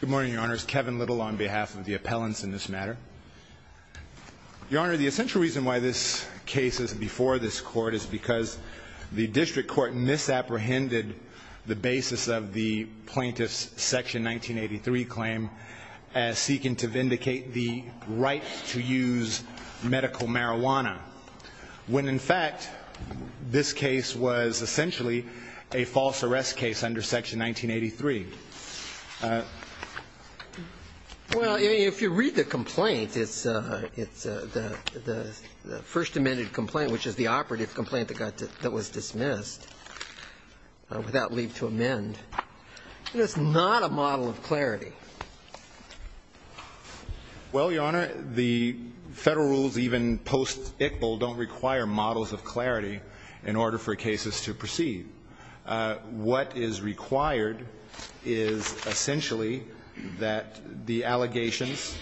Good morning, your honors. Kevin Little on behalf of the appellants in this matter. Your honor, the essential reason why this case is before this court is because the district court misapprehended the basis of the plaintiff's section 1983 claim as seeking to vindicate the right to use medical marijuana when in fact this case was essentially a false arrest case under section 1983. Well, if you read the complaint, it's the first amended complaint, which is the operative complaint that was dismissed without leave to amend. It is not a model of clarity. Well, your honor, the Federal rules even post-Iqbal don't require models of clarity in order for cases to proceed. What is required is essentially that the allegations,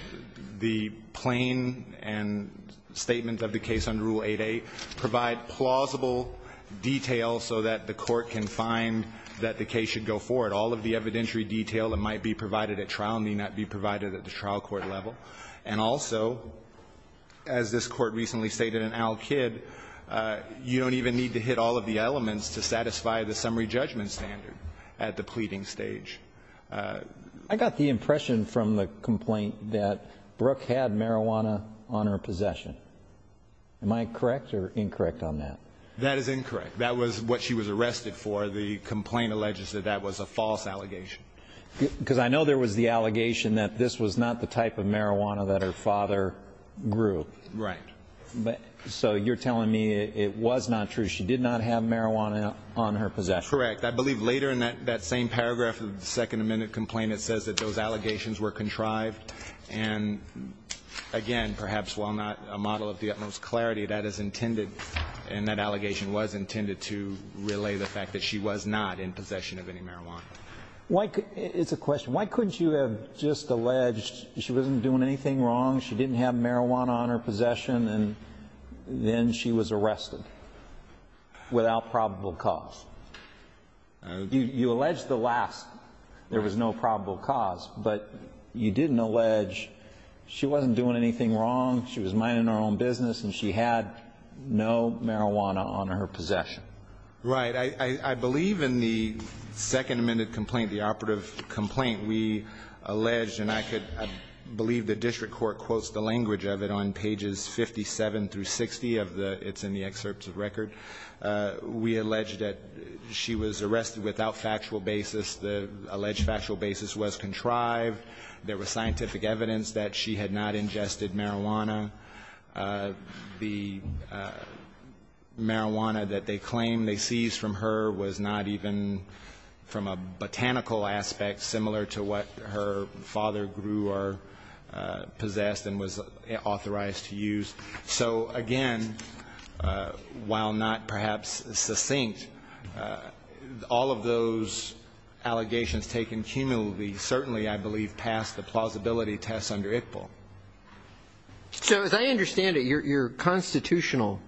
the plain and statement of the case under Rule 8a provide plausible detail so that the court can find that the case should go forward. All of the evidentiary detail that might be provided at trial may not be provided at the trial court level. And also, as this court recently stated in Al-Kid, you don't even need to hit all of the elements to satisfy the summary judgment standard at the pleading stage. I got the impression from the complaint that Brooke had marijuana on her possession. Am I correct or incorrect on that? That is incorrect. That was what she was arrested for. The complaint alleges that that was a false allegation. Because I know there was the allegation that this was not the type of marijuana that her father grew. Right. So you're telling me it was not true. She did not have marijuana on her possession. Correct. I believe later in that same paragraph of the Second Amendment complaint it says that those allegations were contrived. And again, perhaps while not a model of the utmost clarity, that is intended and that allegation was intended to relay the fact that she was not in possession of any marijuana. It's a question. Why couldn't you have just alleged she wasn't doing anything wrong, she didn't have marijuana on her possession, and then she was arrested without probable cause? You alleged the last. There was no probable cause. But you didn't allege she wasn't doing anything wrong, she was minding her own business, and she had no marijuana on her possession. Right. I believe in the Second Amendment complaint, the operative complaint, we alleged and I believe the district court quotes the language of it on pages 57 through 60 of the, it's in the excerpts of record. We alleged that she was arrested without factual basis. The alleged factual basis was contrived. There was scientific evidence that she had not ingested marijuana. The marijuana that they claim they seized from her was not even from a botanical aspect similar to what her father grew or possessed and was authorized to use. So again, while not perhaps succinct, all of those allegations taken cumulatively certainly I believe pass the plausibility test under ICPL. So as I understand it, your constitutional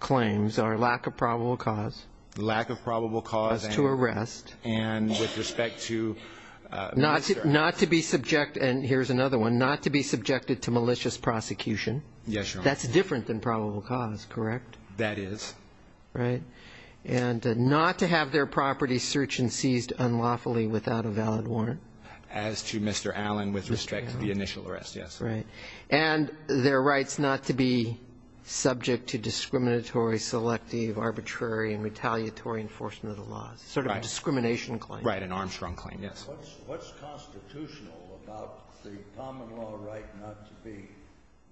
claims are lack of probable cause. Lack of probable cause. As to arrest. And with respect to. Not to be subject, and here's another one, not to be subjected to malicious prosecution. Yes, Your Honor. That's different than probable cause, correct? That is. Right. And not to have their property searched and seized unlawfully without a valid warrant. As to Mr. Allen with respect to the initial arrest, yes. Right. And their rights not to be subject to discriminatory, selective, arbitrary, and retaliatory enforcement of the laws, sort of a discrimination claim. Right, an Armstrong claim, yes. What's constitutional about the common law right not to be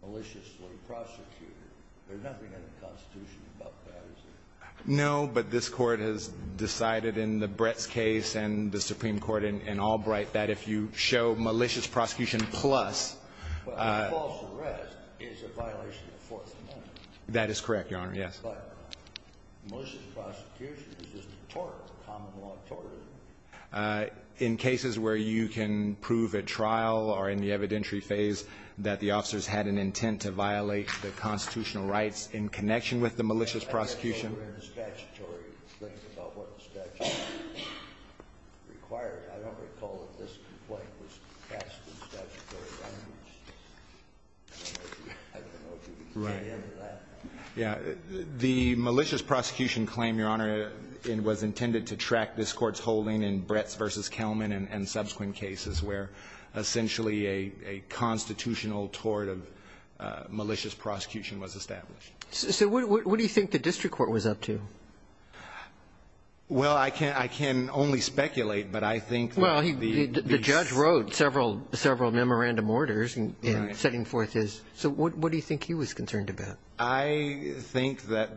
maliciously prosecuted? There's nothing in the Constitution about that, is there? No, but this Court has decided in the Brett's case and the Supreme Court and all rights that if you show malicious prosecution plus. Well, a false arrest is a violation of the Fourth Amendment. That is correct, Your Honor, yes. But malicious prosecution is just a tort, a common law tort, isn't it? In cases where you can prove at trial or in the evidentiary phase that the officers had an intent to violate the constitutional rights in connection with the malicious prosecution. Right. Yes. The malicious prosecution claim, Your Honor, was intended to track this Court's holding in Brett's v. Kelman and subsequent cases where essentially a constitutional tort of malicious prosecution was established. So what do you think the district court was up to? Well, I can only speculate, but I think. Well, the judge wrote several memorandum orders setting forth his. So what do you think he was concerned about? I think that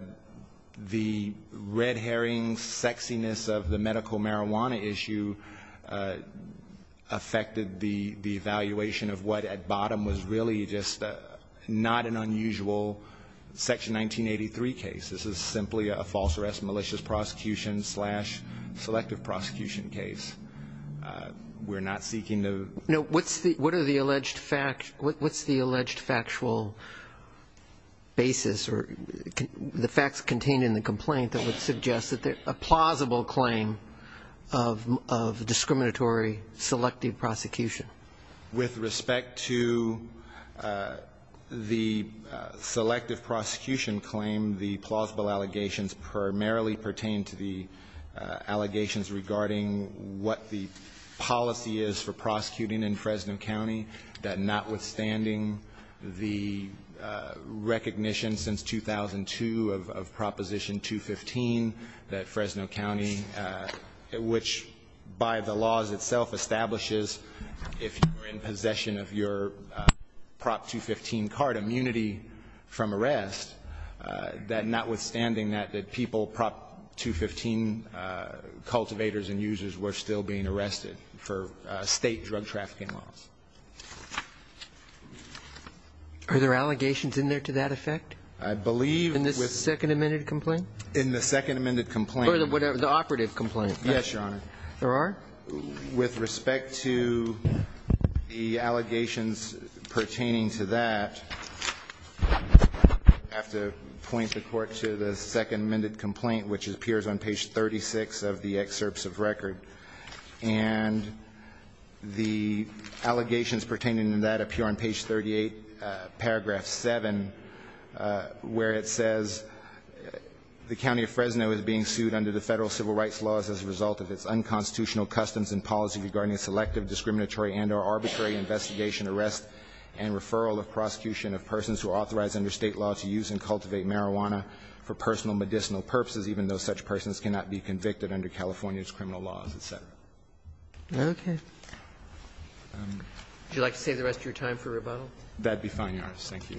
the red herring sexiness of the medical marijuana issue affected the evaluation of what at bottom was really just not an unusual Section 1983 case. This is simply a false arrest, malicious prosecution slash selective prosecution case. We're not seeking to. No, what's the alleged factual basis or the facts contained in the complaint that would suggest that a plausible claim of discriminatory selective prosecution? With respect to the selective prosecution claim, the plausible allegations primarily pertain to the allegations regarding what the policy is for prosecuting in Fresno County, that notwithstanding the recognition since 2002 of Proposition 215 that Fresno County, which by the laws itself establishes if you're in possession of your Prop 215 card immunity from arrest, that notwithstanding that, that people, Prop 215 cultivators and users were still being arrested for State drug trafficking laws. Are there allegations in there to that effect? I believe with. The second amended complaint in the second amended complaint, whatever the operative complaint. Yes, Your Honor. There are with respect to the allegations pertaining to that. I have to point the court to the second amended complaint, which appears on page 36 of the excerpts of record and the allegations pertaining to that appear on page 38 of paragraph 7, where it says, The county of Fresno is being sued under the Federal civil rights laws as a result of its unconstitutional customs and policy regarding selective, discriminatory and or arbitrary investigation, arrest and referral of prosecution of persons who are authorized under State law to use and cultivate marijuana for personal medicinal purposes, even though such persons cannot be convicted under California's criminal laws, et cetera. Okay. Would you like to save the rest of your time for rebuttal? That would be fine, Your Honor. Thank you.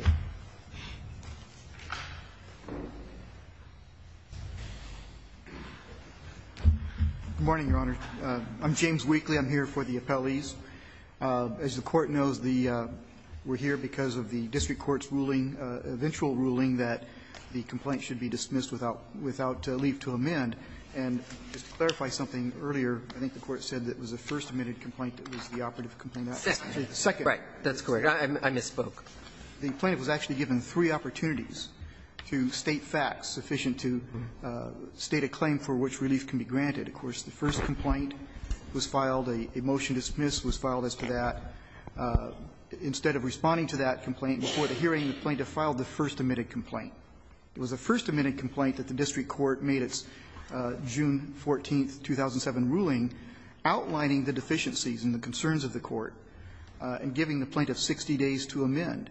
Good morning, Your Honor. I'm James Weakley. I'm here for the appellees. As the Court knows, the we're here because of the district court's ruling, eventual ruling, that the complaint should be dismissed without leave to amend. And just to clarify something earlier, I think the Court said that it was the first amended complaint that was the operative complaint. Right. That's correct. I misspoke. The plaintiff was actually given three opportunities to state facts sufficient to state a claim for which relief can be granted. Of course, the first complaint was filed. A motion to dismiss was filed as to that. Instead of responding to that complaint before the hearing, the plaintiff filed the first amended complaint. It was the first amended complaint that the district court made its June 14th, 2007 ruling, outlining the deficiencies and the concerns of the court and giving the plaintiff 60 days to amend.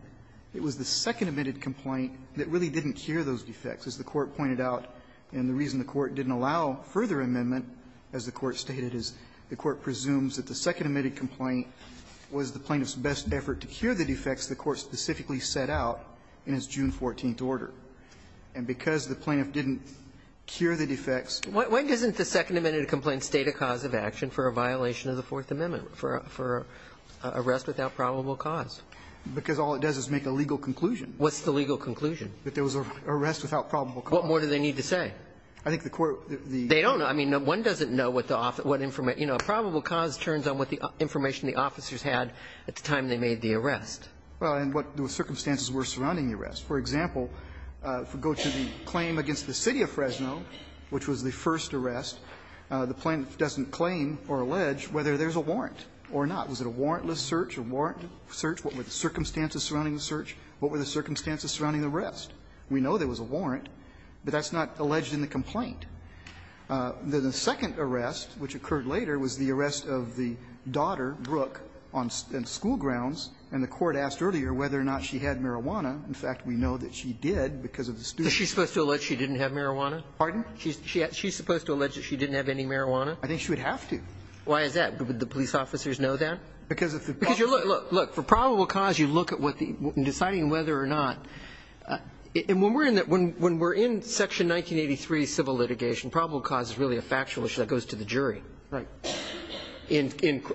It was the second amended complaint that really didn't cure those defects, as the Court pointed out, and the reason the Court didn't allow further amendment, as the Court stated, is the Court presumes that the second amended complaint was the plaintiff's best effort to cure the defects the court specifically set out in its June 14th order. And because the plaintiff didn't cure the defects. When doesn't the second amended complaint state a cause of action for a violation of the Fourth Amendment, for arrest without probable cause? Because all it does is make a legal conclusion. What's the legal conclusion? That there was an arrest without probable cause. What more do they need to say? I think the court, the court. They don't know. I mean, one doesn't know what the, you know, probable cause turns on what the information the officers had at the time they made the arrest. Well, and what the circumstances were surrounding the arrest. For example, if we go to the claim against the City of Fresno, which was the first arrest, the plaintiff doesn't claim or allege whether there's a warrant or not. Was it a warrantless search or warrant search? What were the circumstances surrounding the search? What were the circumstances surrounding the arrest? We know there was a warrant, but that's not alleged in the complaint. The second arrest, which occurred later, was the arrest of the daughter, Brooke, on school grounds, and the Court asked earlier whether or not she had marijuana. In fact, we know that she did because of the student. So she's supposed to allege she didn't have marijuana? Pardon? She's supposed to allege that she didn't have any marijuana? I think she would have to. Why is that? Would the police officers know that? Because if the probable cause you look at what the, in deciding whether or not. And when we're in that, when we're in Section 1983 civil litigation, probable cause is really a factual issue that goes to the jury. Right.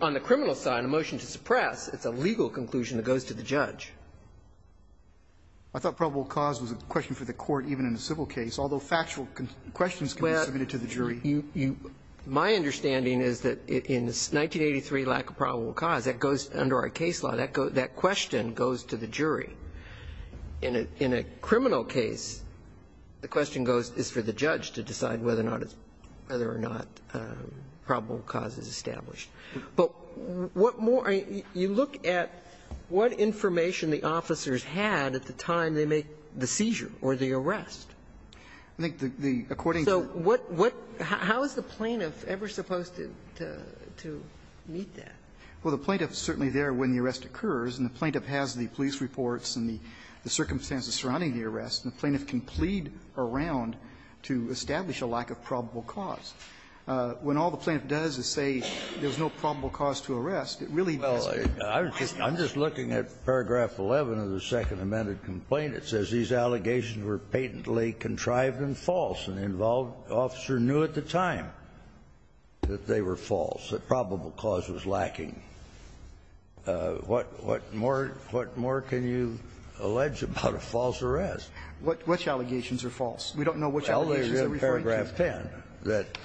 On the criminal side, a motion to suppress, it's a legal conclusion that goes to the judge. I thought probable cause was a question for the Court even in a civil case, although factual questions can be submitted to the jury. My understanding is that in 1983 lack of probable cause, that goes under our case law, that question goes to the jury. In a criminal case, the question goes, is for the judge to decide whether or not probable cause is established. But what more, you look at what information the officers had at the time they make the seizure or the arrest. I think the, according to the. So what, what, how is the plaintiff ever supposed to, to meet that? Well, the plaintiff is certainly there when the arrest occurs, and the plaintiff has the police reports and the circumstances surrounding the arrest, and the plaintiff can plead around to establish a lack of probable cause. When all the plaintiff does is say there's no probable cause to arrest, it really doesn't. Well, I'm just looking at paragraph 11 of the Second Amended Complaint. It says these allegations were patently contrived and false, and the involved officer knew at the time that they were false, that probable cause was lacking. What, what more, what more can you allege about a false arrest? What, which allegations are false? We don't know which allegations are referring to. It doesn't specify in paragraph 10 that,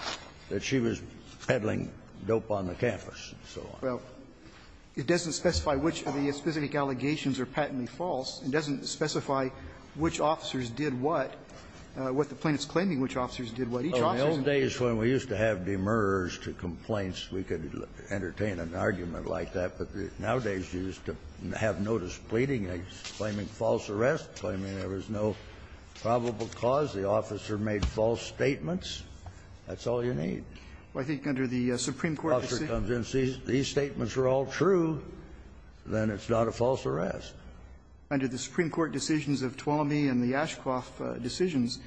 that she was peddling dope on the campus and so on. Well, it doesn't specify which of the specific allegations are patently false. It doesn't specify which officers did what, what the plaintiff's claiming which officers did what. Each officer's in the case. Well, in the old days when we used to have demurrers to complaints, we could entertain an argument like that, but nowadays you used to have notice pleading, claiming false arrest, claiming there was no probable cause. The officer made false statements. That's all you need. Well, I think under the Supreme Court decisions. If the officer comes in and says these statements are all true, then it's not a false arrest. Under the Supreme Court decisions of Tuolumne and the Ashcroft decisions,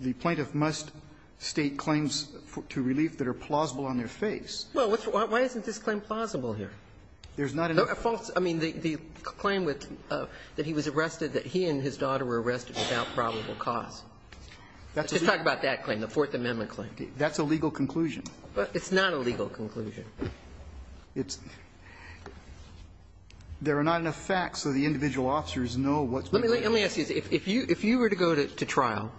the plaintiff must state claims to relief that are plausible on their face. Well, what's the why isn't this claim plausible here? There's not a false. That's a legal conclusion. It's not a legal conclusion. It's there are not enough facts so the individual officers know what's going on. Let me ask you this. If you were to go to trial,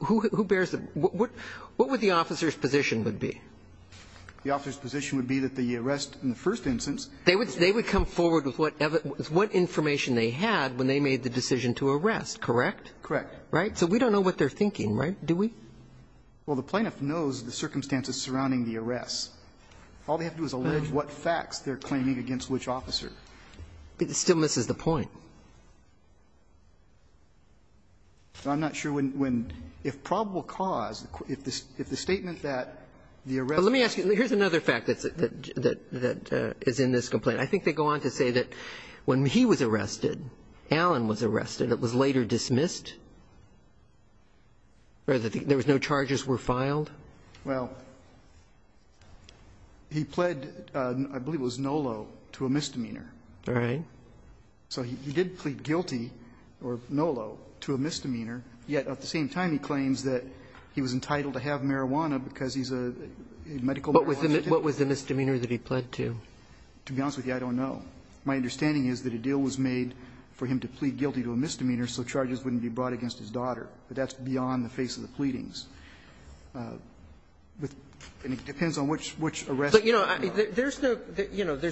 who bears the what would the officer's position would be? The officer's position would be that the arrest in the first instance. They would come forward with what information they had when they made the decision to arrest, correct? Correct. Right? So we don't know what they're thinking, right? Do we? Well, the plaintiff knows the circumstances surrounding the arrest. All they have to do is allege what facts they're claiming against which officer. But it still misses the point. I'm not sure when, if probable cause, if the statement that the arrest was false. Let me ask you. Here's another fact that is in this complaint. I think they go on to say that when he was arrested, Alan was arrested, it was later dismissed? Or that there was no charges were filed? Well, he pled, I believe it was Nolo, to a misdemeanor. All right. So he did plead guilty, or Nolo, to a misdemeanor, yet at the same time he claims that he was entitled to have marijuana because he's a medical marijuana addict. What was the misdemeanor that he pled to? To be honest with you, I don't know. My understanding is that a deal was made for him to plead guilty to a misdemeanor so charges wouldn't be brought against his daughter. But that's beyond the face of the pleadings. And it depends on which arrest. But, you know, there's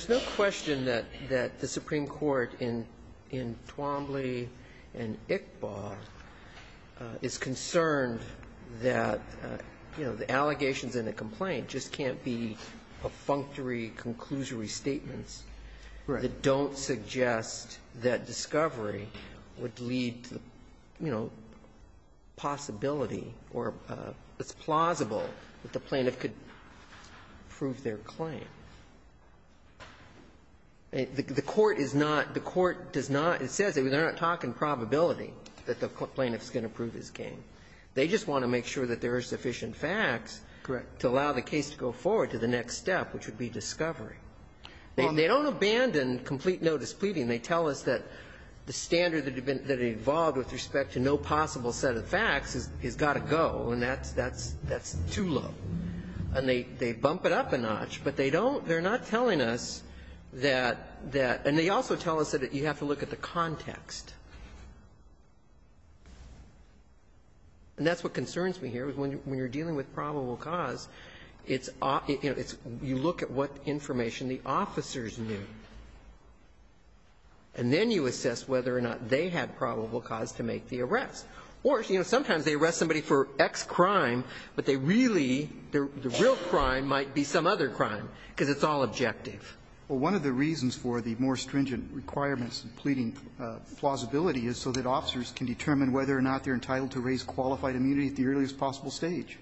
no question that the Supreme Court in Twombly and Iqbal is concerned that, you know, the allegations in the complaint just can't be a functory of conclusory statements that don't suggest that discovery would lead to, you know, possibility or it's plausible that the plaintiff could prove their claim. The Court is not, the Court does not, it says they're not talking probability that the plaintiff's going to prove his claim. They just want to make sure that there are sufficient facts to allow the case to go forward to the next step, which would be discovery. They don't abandon complete no-displeading. They tell us that the standard that evolved with respect to no possible set of facts has got to go, and that's too low. And they bump it up a notch, but they don't, they're not telling us that, and they also tell us that you have to look at the context. And that's what concerns me here, is when you're dealing with probable cause, it's, you know, it's, you look at what information the officers knew, and then you assess whether or not they had probable cause to make the arrest. Or, you know, sometimes they arrest somebody for X crime, but they really, the real crime might be some other crime, because it's all objective. Well, one of the reasons for the more stringent requirements in pleading plausibility is so that officers can determine whether or not they're entitled to raise qualified immunity at the earliest possible stage.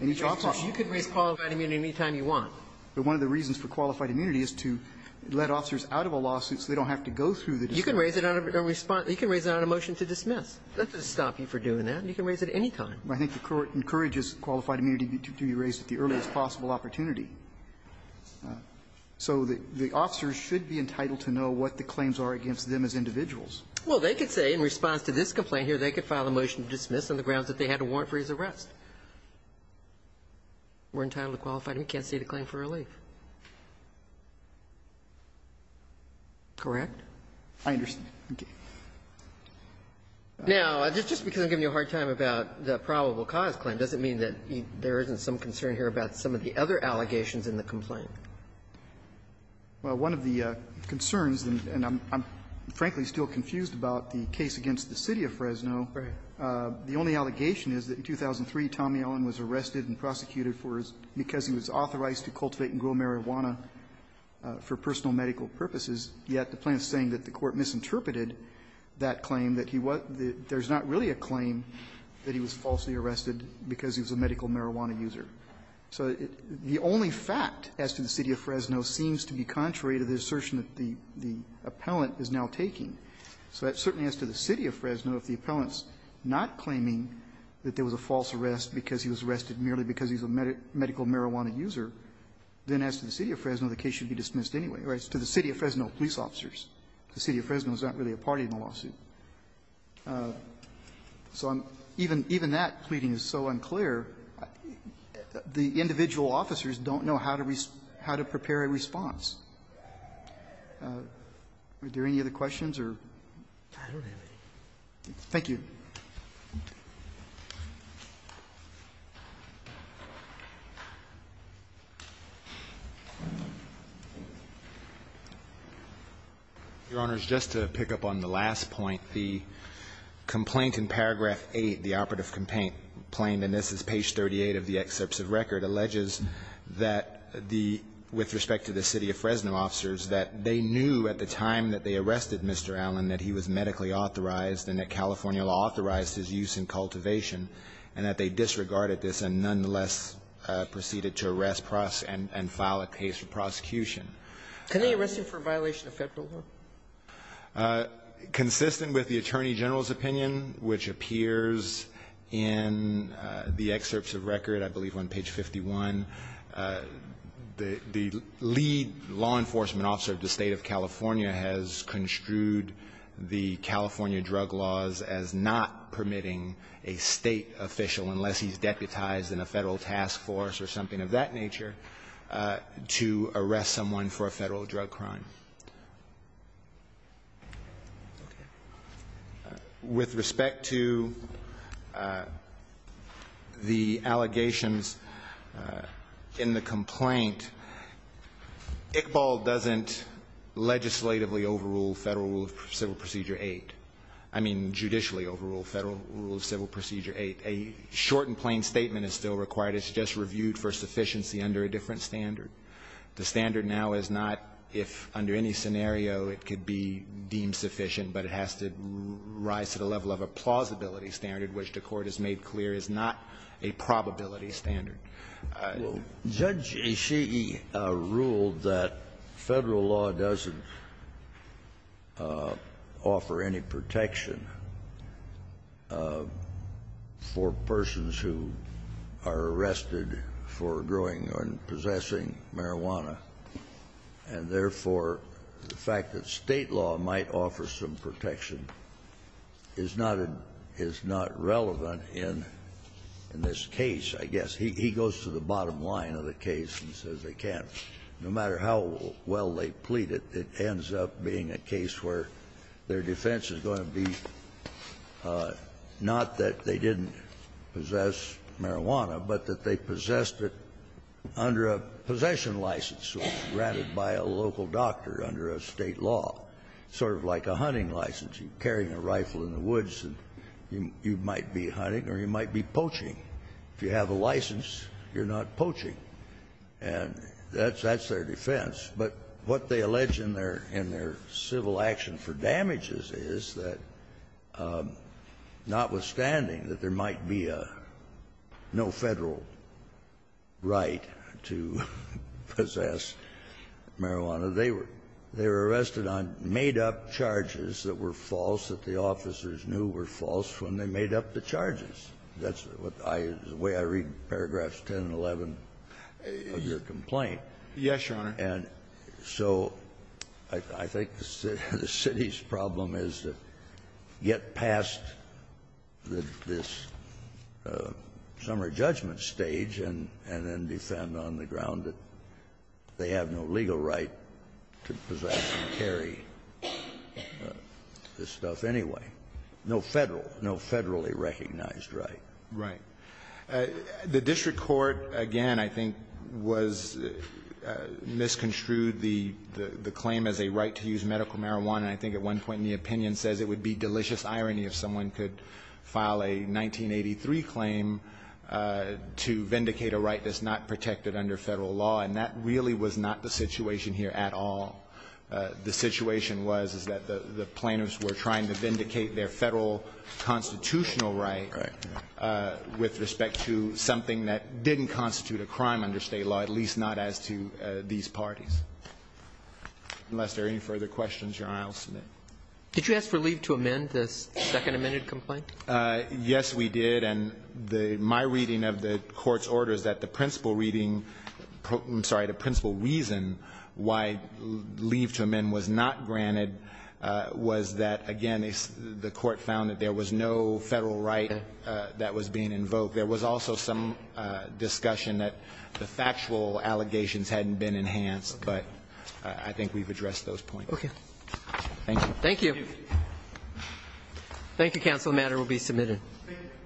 And each officer can raise qualified immunity any time you want. But one of the reasons for qualified immunity is to let officers out of a lawsuit so they don't have to go through the discretion. You can raise it on a response, you can raise it on a motion to dismiss. That doesn't stop you from doing that. You can raise it any time. I think the Court encourages qualified immunity to be raised at the earliest possible opportunity. So the officers should be entitled to know what the claims are against them as individuals. Well, they could say in response to this complaint here, they could file a motion to dismiss on the grounds that they had a warrant for his arrest. We're entitled to qualified immunity. You can't see the claim for relief. Correct? I understand. Okay. Now, just because I'm giving you a hard time about the probable cause claim doesn't mean that there isn't some concern here about some of the other allegations in the complaint. Well, one of the concerns, and I'm frankly still confused about the case against the City of Fresno, the only allegation is that in 2003, Tommy Allen was arrested and prosecuted because he was authorized to cultivate and grow marijuana for personal medical purposes, yet the plaintiff is saying that the Court misinterpreted that claim, that there's not really a claim that he was falsely arrested because he was a medical marijuana user. So the only fact as to the City of Fresno seems to be contrary to the assertion that the appellant is now taking. So that certainly as to the City of Fresno, if the appellant's not claiming that there was a false arrest because he was arrested merely because he's a medical marijuana user, then as to the City of Fresno, the case should be dismissed anyway. As to the City of Fresno police officers, the City of Fresno is not really a party in the lawsuit. So even that pleading is so unclear, the individual officers don't know how to prepare a response. Are there any other questions or? Verrilli, Your Honor, just to pick up on the last point, the complaint in paragraph 8, the operative complaint, and this is page 38 of the excerpts of record, alleges that the – with respect to the City of Fresno officers, that they knew at the time that they arrested Mr. Allen that he was medically authorized and that California authorized his use in cultivation, and that they disregarded this and nonetheless proceeded to arrest and file a case for prosecution. Can they arrest him for a violation of Federal law? Consistent with the Attorney General's opinion, which appears in the excerpts of record, I believe on page 51, the lead law enforcement officer of the State of California has construed the California drug laws as not permitting a State official, unless he's deputized in a Federal task force or something of that nature, to arrest someone for a Federal drug crime. With respect to the allegations in the complaint, Iqbal doesn't legislatively overrule Federal rule of civil procedure 8, I mean, judicially overrule Federal rule of civil procedure 8. A short and plain statement is still required, it's just reviewed for sufficiency under a different standard. The standard now is not if under any scenario it could be deemed sufficient, but it has to rise to the level of a plausibility standard, which the Court has made clear is not a probability standard. Kennedy. Well, Judge Ishii ruled that Federal law doesn't offer any protection for persons who are arrested for growing or possessing marijuana, and therefore, the fact that State law might offer some protection is not relevant in this case, I guess. He goes to the bottom line of the case and says they can't, no matter how well they plead it, it ends up being a case where their defense is going to be not that they didn't possess marijuana, but that they possessed it under a possession license which was granted by a local doctor under a State law, sort of like a hunting license. You're carrying a rifle in the woods and you might be hunting or you might be poaching. If you have a license, you're not poaching. And that's their defense. But what they allege in their civil action for damages is that, notwithstanding that there might be a no Federal right to possess marijuana, they were arrested on made-up charges that were false, that the officers knew were false when they made up the charges. That's the way I read paragraphs 10 and 11 of your complaint. Yes, Your Honor. And so I think the City's problem is to get past this summer judgment stage and then defend on the ground that they have no legal right to possess and carry this stuff anyway, no Federal, no Federally recognized right. Right. The district court, again, I think was mis-construed the claim as a right to use medical marijuana. I think at one point in the opinion says it would be delicious irony if someone could file a 1983 claim to vindicate a right that's not protected under Federal law. And that really was not the situation here at all. The situation was that the plaintiffs were trying to vindicate their Federal constitutional right with respect to something that didn't constitute a crime under State law, at least not as to these parties. Unless there are any further questions, Your Honor, I'll submit. Did you ask for leave to amend the second amended complaint? Yes, we did. And the my reading of the Court's order is that the principal reading, I'm sorry, the principal reason why leave to amend was not granted was that, again, the Court found that there was no Federal right that was being invoked. There was also some discussion that the factual allegations hadn't been enhanced, but I think we've addressed those points. Okay. Thank you. Thank you. Thank you, Counsel. The matter will be submitted.